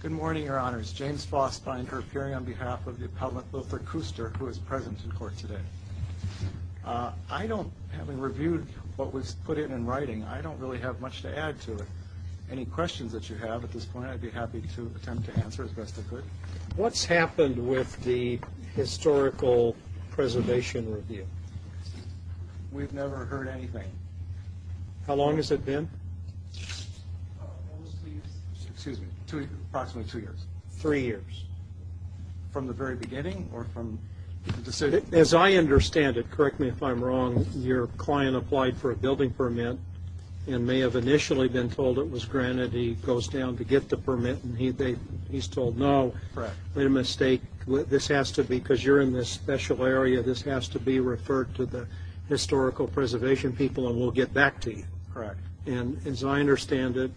Good morning, your honors. James Fossbinder appearing on behalf of the Appellant Lothar Kuster, who is present in court today. I don't, having reviewed what was put in in writing, I don't really have much to add to it. Any questions that you have at this point, I'd be happy to attempt to answer as best I could. What's happened with the historical preservation review? We've never heard anything. How long has it been? Approximately two years. Three years. From the very beginning or from the decision? As I understand it, correct me if I'm wrong, your client applied for a building permit and may have initially been told it was granted. He goes down to get the permit and he's told no, made a mistake. This has to be, because you're in this special area, this has to be referred to the historical preservation people and we'll get back to you. Correct. And as I understand it,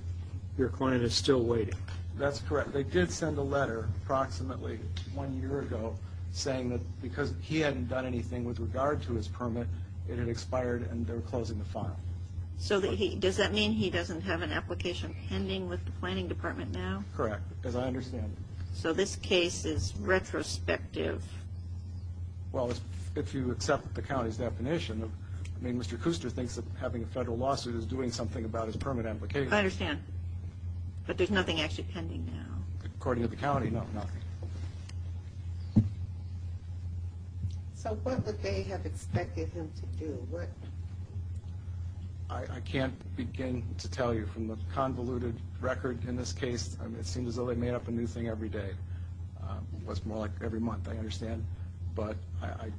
your client is still waiting. That's correct. They did send a letter approximately one year ago saying that because he hadn't done anything with regard to his permit, it had expired and they're closing the file. So does that mean he doesn't have an application pending with the planning department now? Correct, as I understand it. So this case is retrospective. Well, if you accept the county's definition, I mean, Mr. Kuster thinks that having a federal lawsuit is doing something about his permit application. I understand, but there's nothing actually pending now. According to the county, no, nothing. So what would they have expected him to do? I can't begin to tell you. From the convoluted record in this case, it seems as though they made up a new thing every day. It was more like every month, I understand, but I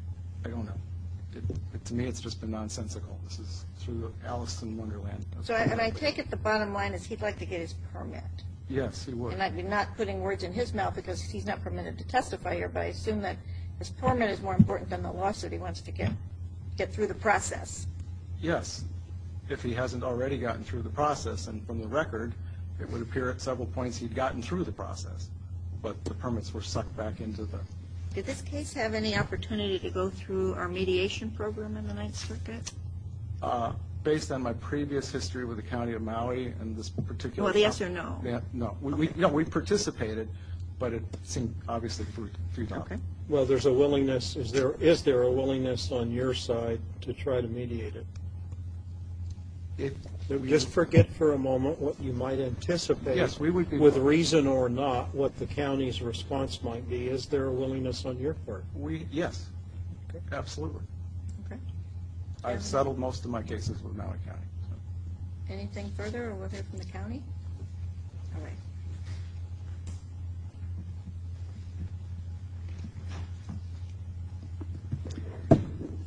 don't know. To me, it's just been nonsensical. This is through Alice in Wonderland. And I take it the bottom line is he'd like to get his permit. Yes, he would. And I'd be not putting words in his mouth because he's not permitted to testify here, but I assume that his permit is more important than the lawsuit. He wants to get through the process. Yes, if he hasn't already gotten through the process. And from the record, it would appear at several points he'd gotten through the process, but the permits were sucked back into them. Did this case have any opportunity to go through our mediation program in the Ninth Circuit? Based on my previous history with the county of Maui and this particular trial. Well, yes or no? No. We participated, but it seemed obviously futile. Okay. Well, there's a willingness. Is there a willingness on your side to try to mediate it? Just forget for a moment what you might anticipate. Yes, we would be willing. With reason or not, what the county's response might be. Is there a willingness on your part? Yes. Absolutely. Okay. I've settled most of my cases with Maui County. Anything further or whether from the county? All right. Thank you.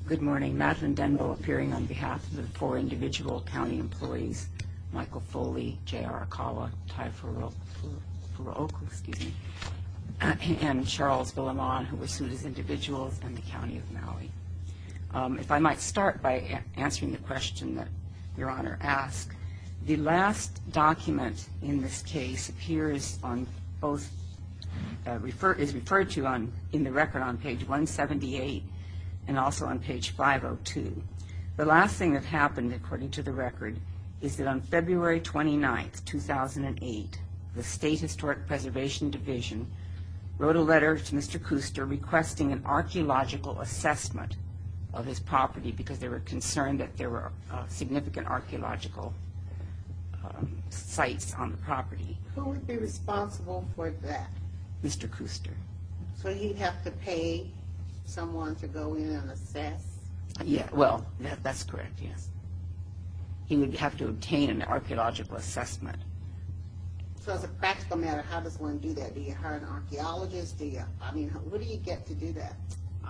Good morning. Madeline Denville appearing on behalf of the four individual county employees. Michael Foley, J.R. Akawa, Tai Furuoka, excuse me, and Charles Villamon, who was sued as individuals in the county of Maui. If I might start by answering the question that Your Honor asked. The last document in this case appears on both referred to in the record on page 178 and also on page 502. The last thing that happened, according to the record, is that on February 29, 2008, the State Historic Preservation Division wrote a letter to Mr. Kuster requesting an archaeological assessment of his property because they were concerned that there were significant archaeological sites on the property. Who would be responsible for that? Mr. Kuster. So he'd have to pay someone to go in and assess? Well, that's correct, yes. He would have to obtain an archaeological assessment. So as a practical matter, how does one do that? Do you hire an archaeologist? What do you get to do that?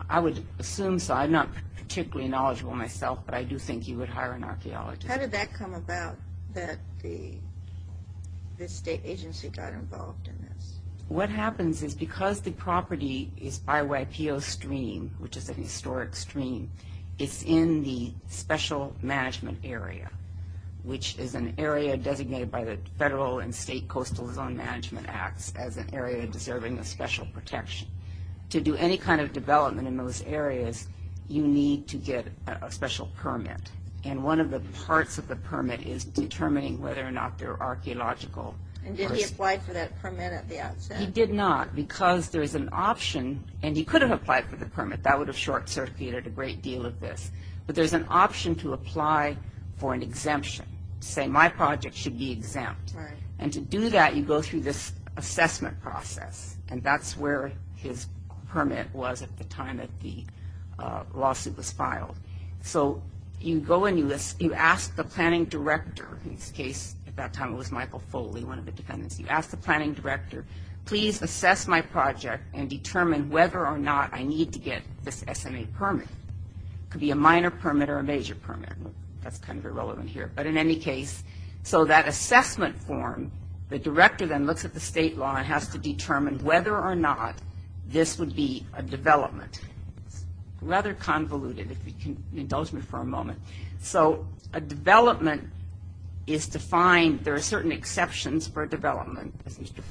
I would assume so. I'm not particularly knowledgeable myself, but I do think you would hire an archaeologist. How did that come about that the state agency got involved in this? What happens is because the property is by YPO Stream, which is a historic stream, it's in the special management area, which is an area designated by the federal and state coastal zone management acts as an area deserving of special protection. To do any kind of development in those areas, you need to get a special permit, and one of the parts of the permit is determining whether or not they're archaeological. And did he apply for that permit at the outset? He did not because there is an option, and he could have applied for the permit. That would have short-circuited a great deal of this. But there's an option to apply for an exemption, to say my project should be exempt. Right. And to do that, you go through this assessment process, and that's where his permit was at the time that the lawsuit was filed. So you go and you ask the planning director. In this case, at that time it was Michael Foley, one of the defendants. You ask the planning director, please assess my project and determine whether or not I need to get this SMA permit. It could be a minor permit or a major permit. That's kind of irrelevant here. But in any case, so that assessment form, the director then looks at the state law and has to determine whether or not this would be a development. Rather convoluted, if you can indulge me for a moment. So a development is to find there are certain exceptions for development, as Mr.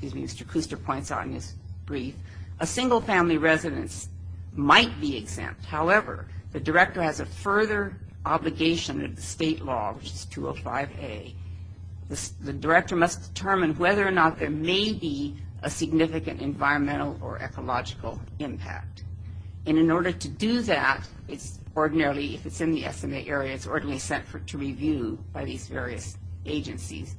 Kuster points out in his brief. A single-family residence might be exempt. However, the director has a further obligation of the state law, which is 205A. The director must determine whether or not there may be a significant environmental or ecological impact. And in order to do that, it's ordinarily, if it's in the SMA area, it's ordinarily sent to review by these various agencies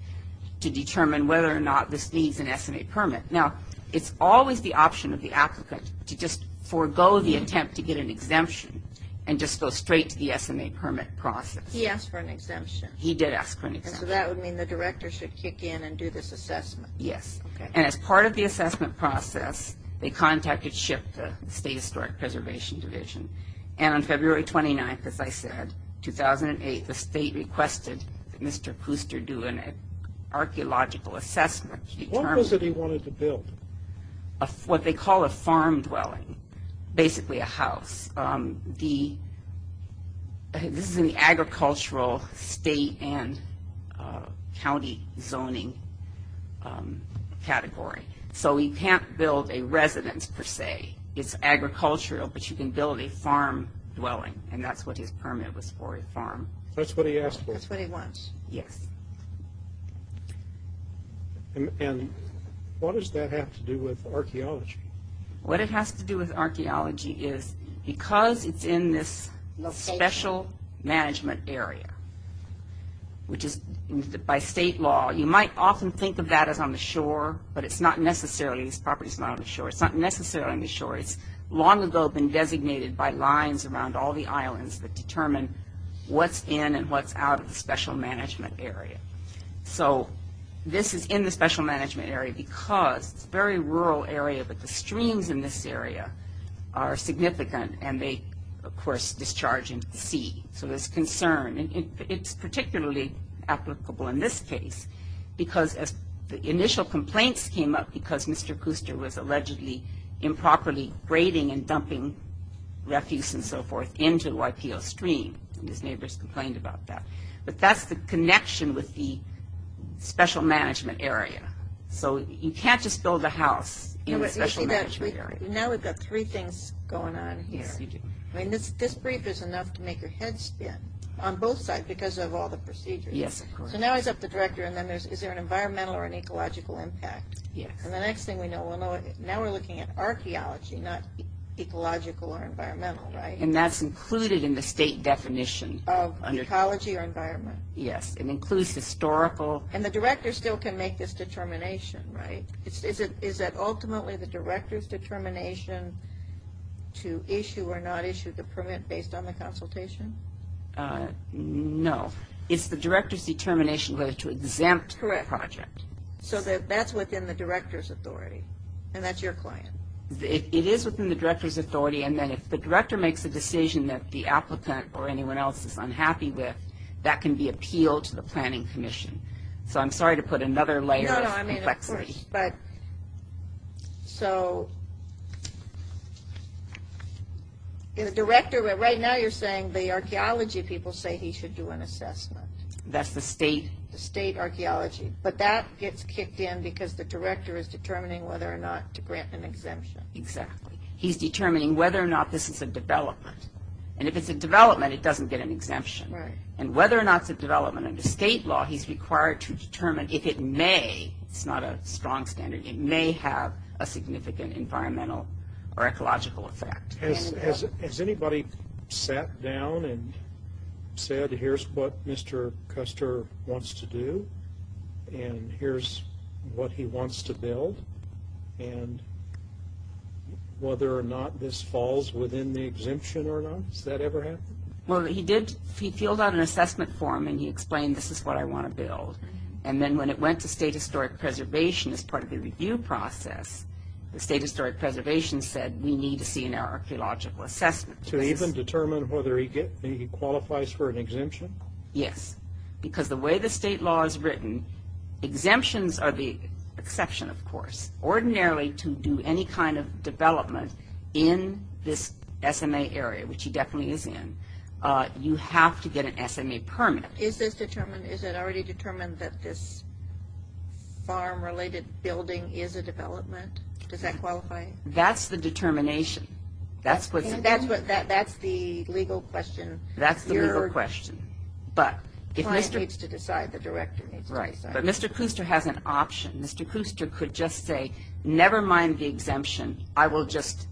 to determine whether or not this needs an SMA permit. Now, it's always the option of the applicant to just forego the attempt to get an exemption and just go straight to the SMA permit process. He asked for an exemption. He did ask for an exemption. So that would mean the director should kick in and do this assessment. Yes. And as part of the assessment process, they contacted SHIP, the State Historic Preservation Division. And on February 29th, as I said, 2008, the state requested that Mr. Kuster do an archaeological assessment. What was it he wanted to build? What they call a farm dwelling, basically a house. This is in the agricultural state and county zoning category. So he can't build a residence, per se. It's agricultural, but you can build a farm dwelling. And that's what his permit was for, a farm. That's what he asked for. That's what he wants. Yes. And what does that have to do with archaeology? What it has to do with archaeology is, because it's in this special management area, which is by state law, you might often think of that as on the shore, but it's not necessarily. This property is not on the shore. It's not necessarily on the shore. It's long ago been designated by lines around all the islands that determine what's in and what's out of the special management area. So this is in the special management area because it's a very rural area, but the streams in this area are significant, and they, of course, discharge into the sea. So there's concern. It's particularly applicable in this case because the initial complaints came up because Mr. Kuster was allegedly improperly grading and dumping refuse and so forth into the Waipio Stream, and his neighbors complained about that. But that's the connection with the special management area. So you can't just build a house in the special management area. Now we've got three things going on here. Yes, you do. I mean, this brief is enough to make your head spin on both sides because of all the procedures. Yes, of course. So now he's up to the director, and then is there an environmental or an ecological impact? Yes. And the next thing we know, now we're looking at archaeology, not ecological or environmental, right? And that's included in the state definition. Of ecology or environment. Yes. It includes historical. And the director still can make this determination, right? Is it ultimately the director's determination to issue or not issue the permit based on the consultation? No. It's the director's determination whether to exempt the project. Correct. So that's within the director's authority, and that's your client. It is within the director's authority, and then if the director makes a decision that the applicant or anyone else is unhappy with, that can be appealed to the planning commission. So I'm sorry to put another layer of complexity. No, no, I mean, of course. But so the director, right now you're saying the archaeology people say he should do an assessment. That's the state. The state archaeology. But that gets kicked in because the director is determining whether or not to grant an exemption. Exactly. He's determining whether or not this is a development. And if it's a development, it doesn't get an exemption. Right. And whether or not it's a development under state law, he's required to determine if it may, it's not a strong standard, it may have a significant environmental or ecological effect. Has anybody sat down and said, here's what Mr. Custer wants to do, and here's what he wants to build, and whether or not this falls within the exemption or not? Has that ever happened? Well, he did field out an assessment form, and he explained this is what I want to build. And then when it went to state historic preservation as part of the review process, the state historic preservation said, we need to see an archaeological assessment. To even determine whether he qualifies for an exemption? Yes, because the way the state law is written, exemptions are the exception, of course. Ordinarily, to do any kind of development in this SMA area, which he definitely is in, you have to get an SMA permit. Is this determined, is it already determined that this farm-related building is a development? Does that qualify? That's the determination. That's the legal question. The client needs to decide, the director needs to decide. But Mr. Kuster has an option. Mr. Kuster could just say, never mind the exemption. I will just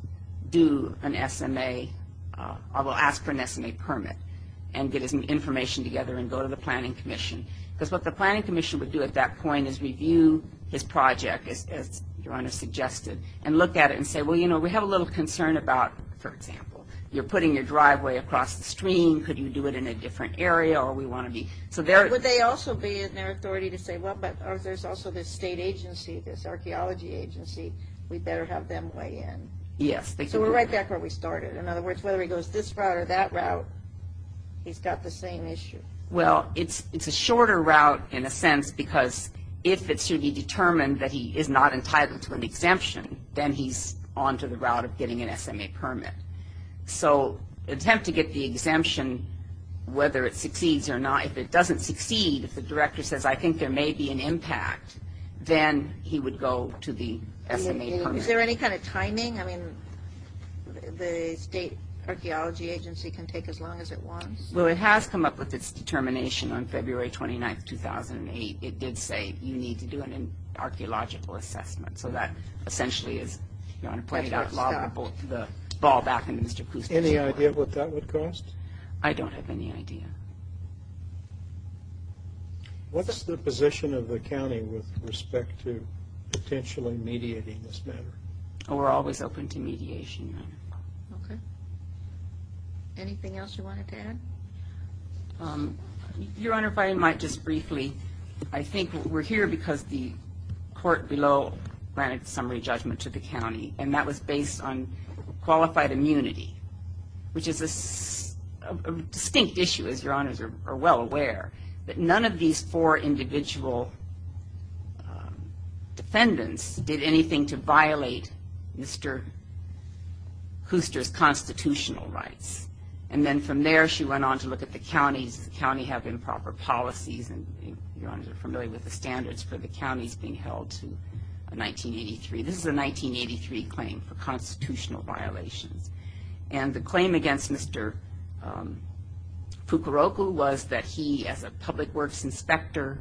do an SMA. I will ask for an SMA permit and get his information together and go to the planning commission. Because what the planning commission would do at that point is review his project, as Your Honor suggested, and look at it and say, well, you know, we have a little concern about, for example, you're putting your driveway across the stream. Could you do it in a different area? Would they also be in their authority to say, well, but there's also this state agency, this archeology agency. We better have them weigh in. Yes. So we're right back where we started. In other words, whether he goes this route or that route, he's got the same issue. Well, it's a shorter route, in a sense, because if it should be determined that he is not entitled to an exemption, then he's on to the route of getting an SMA permit. So attempt to get the exemption, whether it succeeds or not. If it doesn't succeed, if the director says, I think there may be an impact, then he would go to the SMA permit. Is there any kind of timing? I mean, the state archeology agency can take as long as it wants. Well, it has come up with its determination on February 29, 2008. It did say you need to do an archeological assessment. So that essentially is, Your Honor, playing out the ball back into Mr. Kuzma's court. Any idea what that would cost? I don't have any idea. What's the position of the county with respect to potentially mediating this matter? We're always open to mediation, Your Honor. Okay. Anything else you wanted to add? Your Honor, if I might just briefly, I think we're here because the court below granted summary judgment to the county, and that was based on qualified immunity, which is a distinct issue, as Your Honors are well aware, that none of these four individual defendants did anything to violate Mr. Hooster's constitutional rights. And then from there, she went on to look at the counties. The counties have improper policies, and Your Honors are familiar with the standards for the counties being held to 1983. This is a 1983 claim for constitutional violations. And the claim against Mr. Fukuroku was that he, as a public works inspector,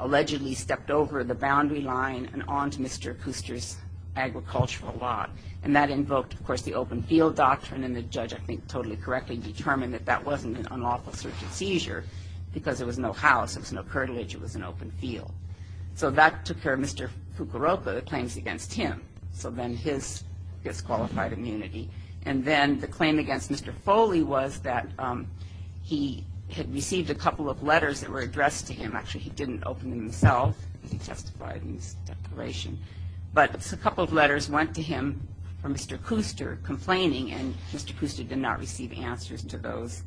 allegedly stepped over the boundary line and onto Mr. Hooster's agricultural lot. And that invoked, of course, the open field doctrine, and the judge, I think, totally correctly determined that that wasn't an unlawful search and seizure because there was no house, there was no curtilage, it was an open field. So that took care of Mr. Fukuroku, the claims against him. So then his disqualified immunity. And then the claim against Mr. Foley was that he had received a couple of letters that were addressed to him. Actually, he didn't open them himself. He testified in his declaration. But a couple of letters went to him from Mr. Hooster complaining, and Mr. Hooster did not receive answers to those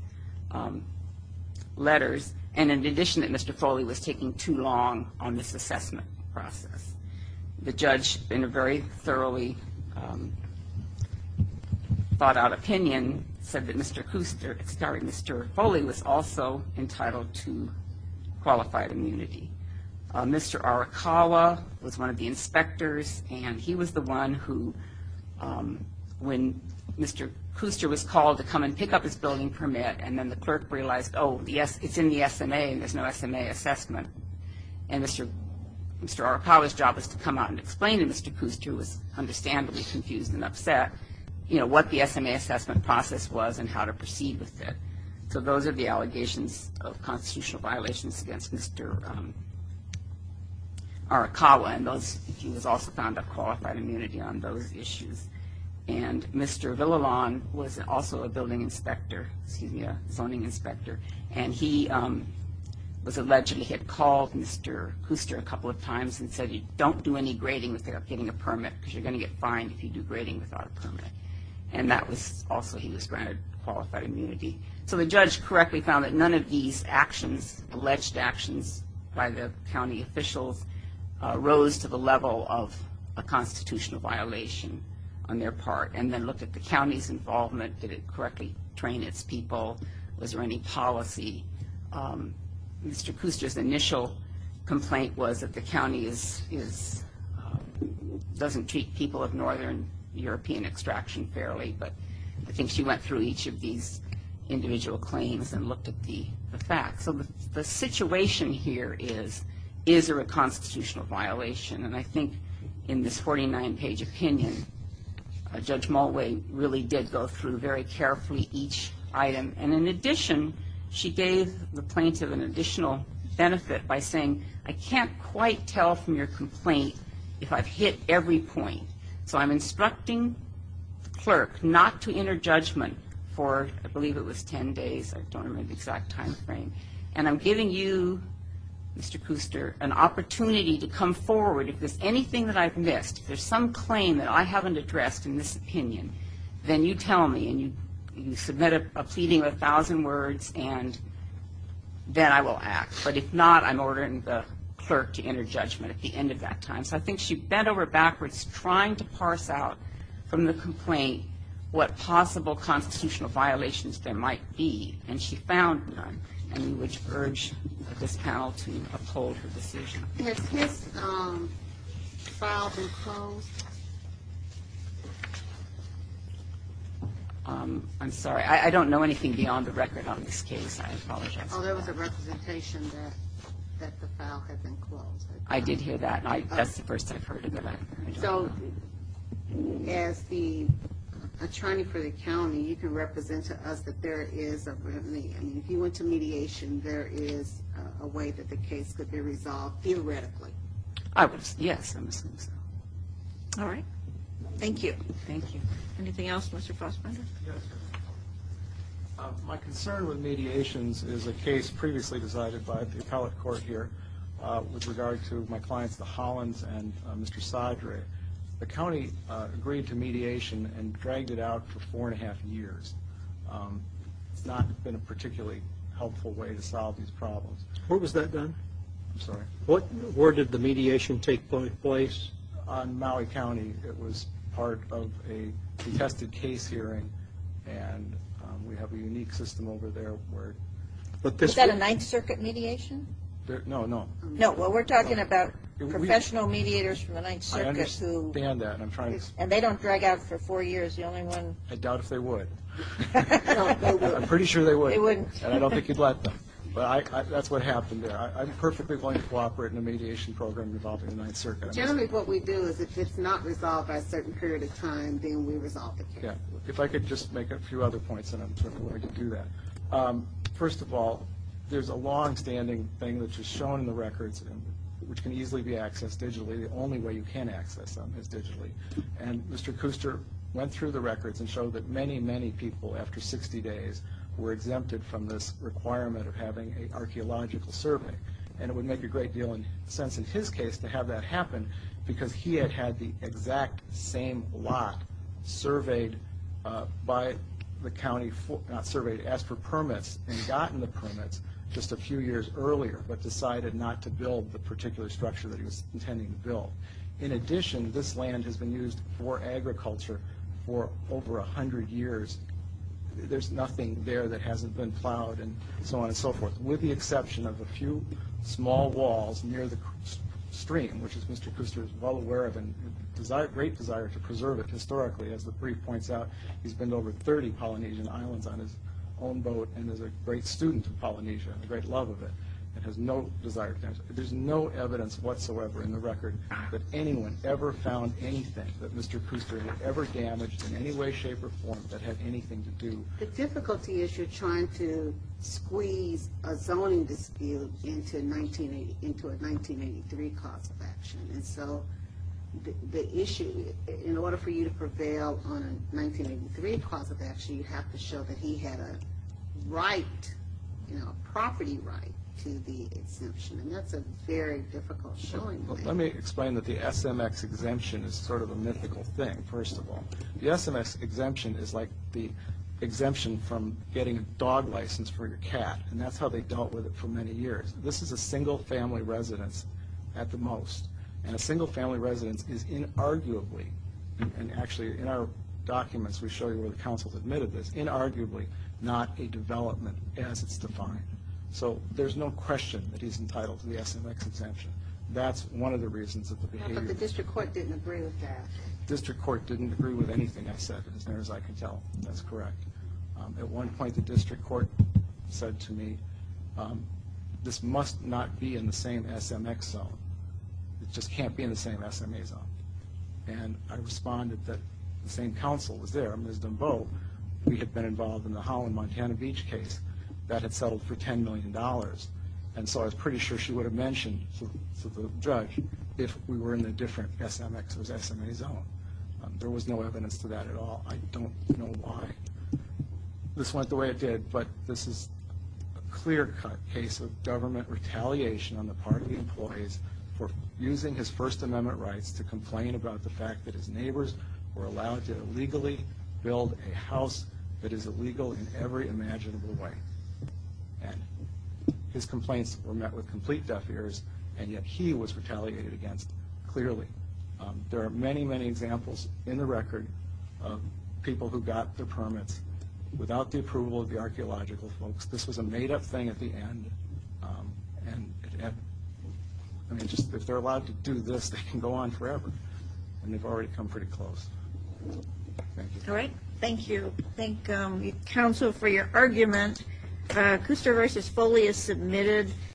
letters. And in addition, that Mr. Foley was taking too long on this assessment process. The judge, in a very thoroughly thought-out opinion, said that Mr. Foley was also entitled to qualified immunity. Mr. Arakawa was one of the inspectors, and he was the one who, when Mr. Hooster was called to come and pick up his building permit, and then the clerk realized, oh, it's in the SMA and there's no SMA assessment. And Mr. Arakawa's job was to come out and explain to Mr. Hooster, who was understandably confused and upset, what the SMA assessment process was and how to proceed with it. So those are the allegations of constitutional violations against Mr. Arakawa, and he was also found of qualified immunity on those issues. And Mr. Villalon was also a zoning inspector, and he was alleged he had called Mr. Hooster a couple of times and said, don't do any grading without getting a permit, because you're going to get fined if you do grading without a permit. And that was also, he was granted qualified immunity. So the judge correctly found that none of these actions, alleged actions by the county officials, rose to the level of a constitutional violation on their part, and then looked at the county's involvement. Did it correctly train its people? Was there any policy? Mr. Hooster's initial complaint was that the county doesn't treat people of northern European extraction fairly, but I think she went through each of these individual claims and looked at the facts. So the situation here is, is there a constitutional violation? And I think in this 49-page opinion, Judge Mulway really did go through very carefully each item. And in addition, she gave the plaintiff an additional benefit by saying, I can't quite tell from your complaint if I've hit every point. So I'm instructing the clerk not to enter judgment for, I believe it was 10 days. I don't remember the exact time frame. And I'm giving you, Mr. Hooster, an opportunity to come forward. If there's anything that I've missed, if there's some claim that I haven't addressed in this opinion, then you tell me, and you submit a pleading of a thousand words, and then I will act. But if not, I'm ordering the clerk to enter judgment at the end of that time. So I think she bent over backwards trying to parse out from the complaint what possible constitutional violations there might be. And she found none, and we would urge this panel to uphold her decision. Has his file been closed? I'm sorry. I don't know anything beyond the record on this case. I apologize. Oh, there was a representation that the file had been closed. I did hear that, and that's the first I've heard of it. So as the attorney for the county, you can represent to us that there is a remedy. I mean, if you went to mediation, there is a way that the case could be resolved theoretically. Yes, I'm assuming so. All right. Thank you. Thank you. Anything else, Mr. Fassbender? My concern with mediations is a case previously decided by the appellate court here with regard to my clients, the Hollins and Mr. Sadre. The county agreed to mediation and dragged it out for four and a half years. It's not been a particularly helpful way to solve these problems. Where was that done? I'm sorry. Where did the mediation take place? On Maui County. It was part of a detested case hearing, and we have a unique system over there. Is that a Ninth Circuit mediation? No, no. No, well, we're talking about professional mediators from the Ninth Circuit. I understand that. And they don't drag out for four years. I doubt if they would. No, they wouldn't. I'm pretty sure they would. They wouldn't. And I don't think you'd let them. But that's what happened there. I'm perfectly willing to cooperate in a mediation program involving the Ninth Circuit. Jeremy, what we do is if it's not resolved by a certain period of time, then we resolve the case. Yeah. If I could just make a few other points, and I'm sure we can do that. First of all, there's a longstanding thing that's just shown in the records, which can easily be accessed digitally. The only way you can access them is digitally. And Mr. Kuster went through the records and showed that many, many people after 60 days were exempted from this requirement of having an archaeological survey. And it would make a great deal of sense in his case to have that happen because he had had the exact same lot surveyed by the county, not surveyed, asked for permits and gotten the permits just a few years earlier but decided not to build the particular structure that he was intending to build. In addition, this land has been used for agriculture for over 100 years. There's nothing there that hasn't been plowed and so on and so forth, with the exception of a few small walls near the stream, which Mr. Kuster is well aware of and has a great desire to preserve it historically. As the brief points out, he's been to over 30 Polynesian islands on his own boat and is a great student of Polynesia and a great love of it. There's no evidence whatsoever in the record that anyone ever found anything that Mr. Kuster had ever damaged in any way, shape or form that had anything to do with it. The difficulty is you're trying to squeeze a zoning dispute into a 1983 cause of action. And so the issue, in order for you to prevail on a 1983 cause of action, you have to show that he had a right, you know, a property right to the exemption. And that's a very difficult showing. Let me explain that the SMX exemption is sort of a mythical thing, first of all. The SMX exemption is like the exemption from getting a dog license for your cat, and that's how they dealt with it for many years. This is a single-family residence at the most, and a single-family residence is inarguably, and actually in our documents we show you where the council has admitted this, inarguably not a development as it's defined. So there's no question that he's entitled to the SMX exemption. That's one of the reasons that the behavior... But the district court didn't agree with that. The district court didn't agree with anything I said, as far as I can tell. That's correct. At one point the district court said to me, this must not be in the same SMX zone. It just can't be in the same SMA zone. And I responded that the same council was there. Ms. Dembeaux, we had been involved in the Holland Montana Beach case. That had settled for $10 million. And so I was pretty sure she would have mentioned to the judge if we were in a different SMX or SMA zone. There was no evidence to that at all. I don't know why this went the way it did. But this is a clear-cut case of government retaliation on the part of the employees for using his First Amendment rights to complain about the fact that his neighbors were allowed to illegally build a house that is illegal in every imaginable way. And his complaints were met with complete deaf ears. And yet he was retaliated against clearly. There are many, many examples in the record of people who got their permits without the approval of the archaeological folks. This was a made-up thing at the end. And if they're allowed to do this, they can go on forever. And they've already come pretty close. Thank you. All right, thank you. Thank you, counsel, for your argument. Cooster v. Foley is submitted.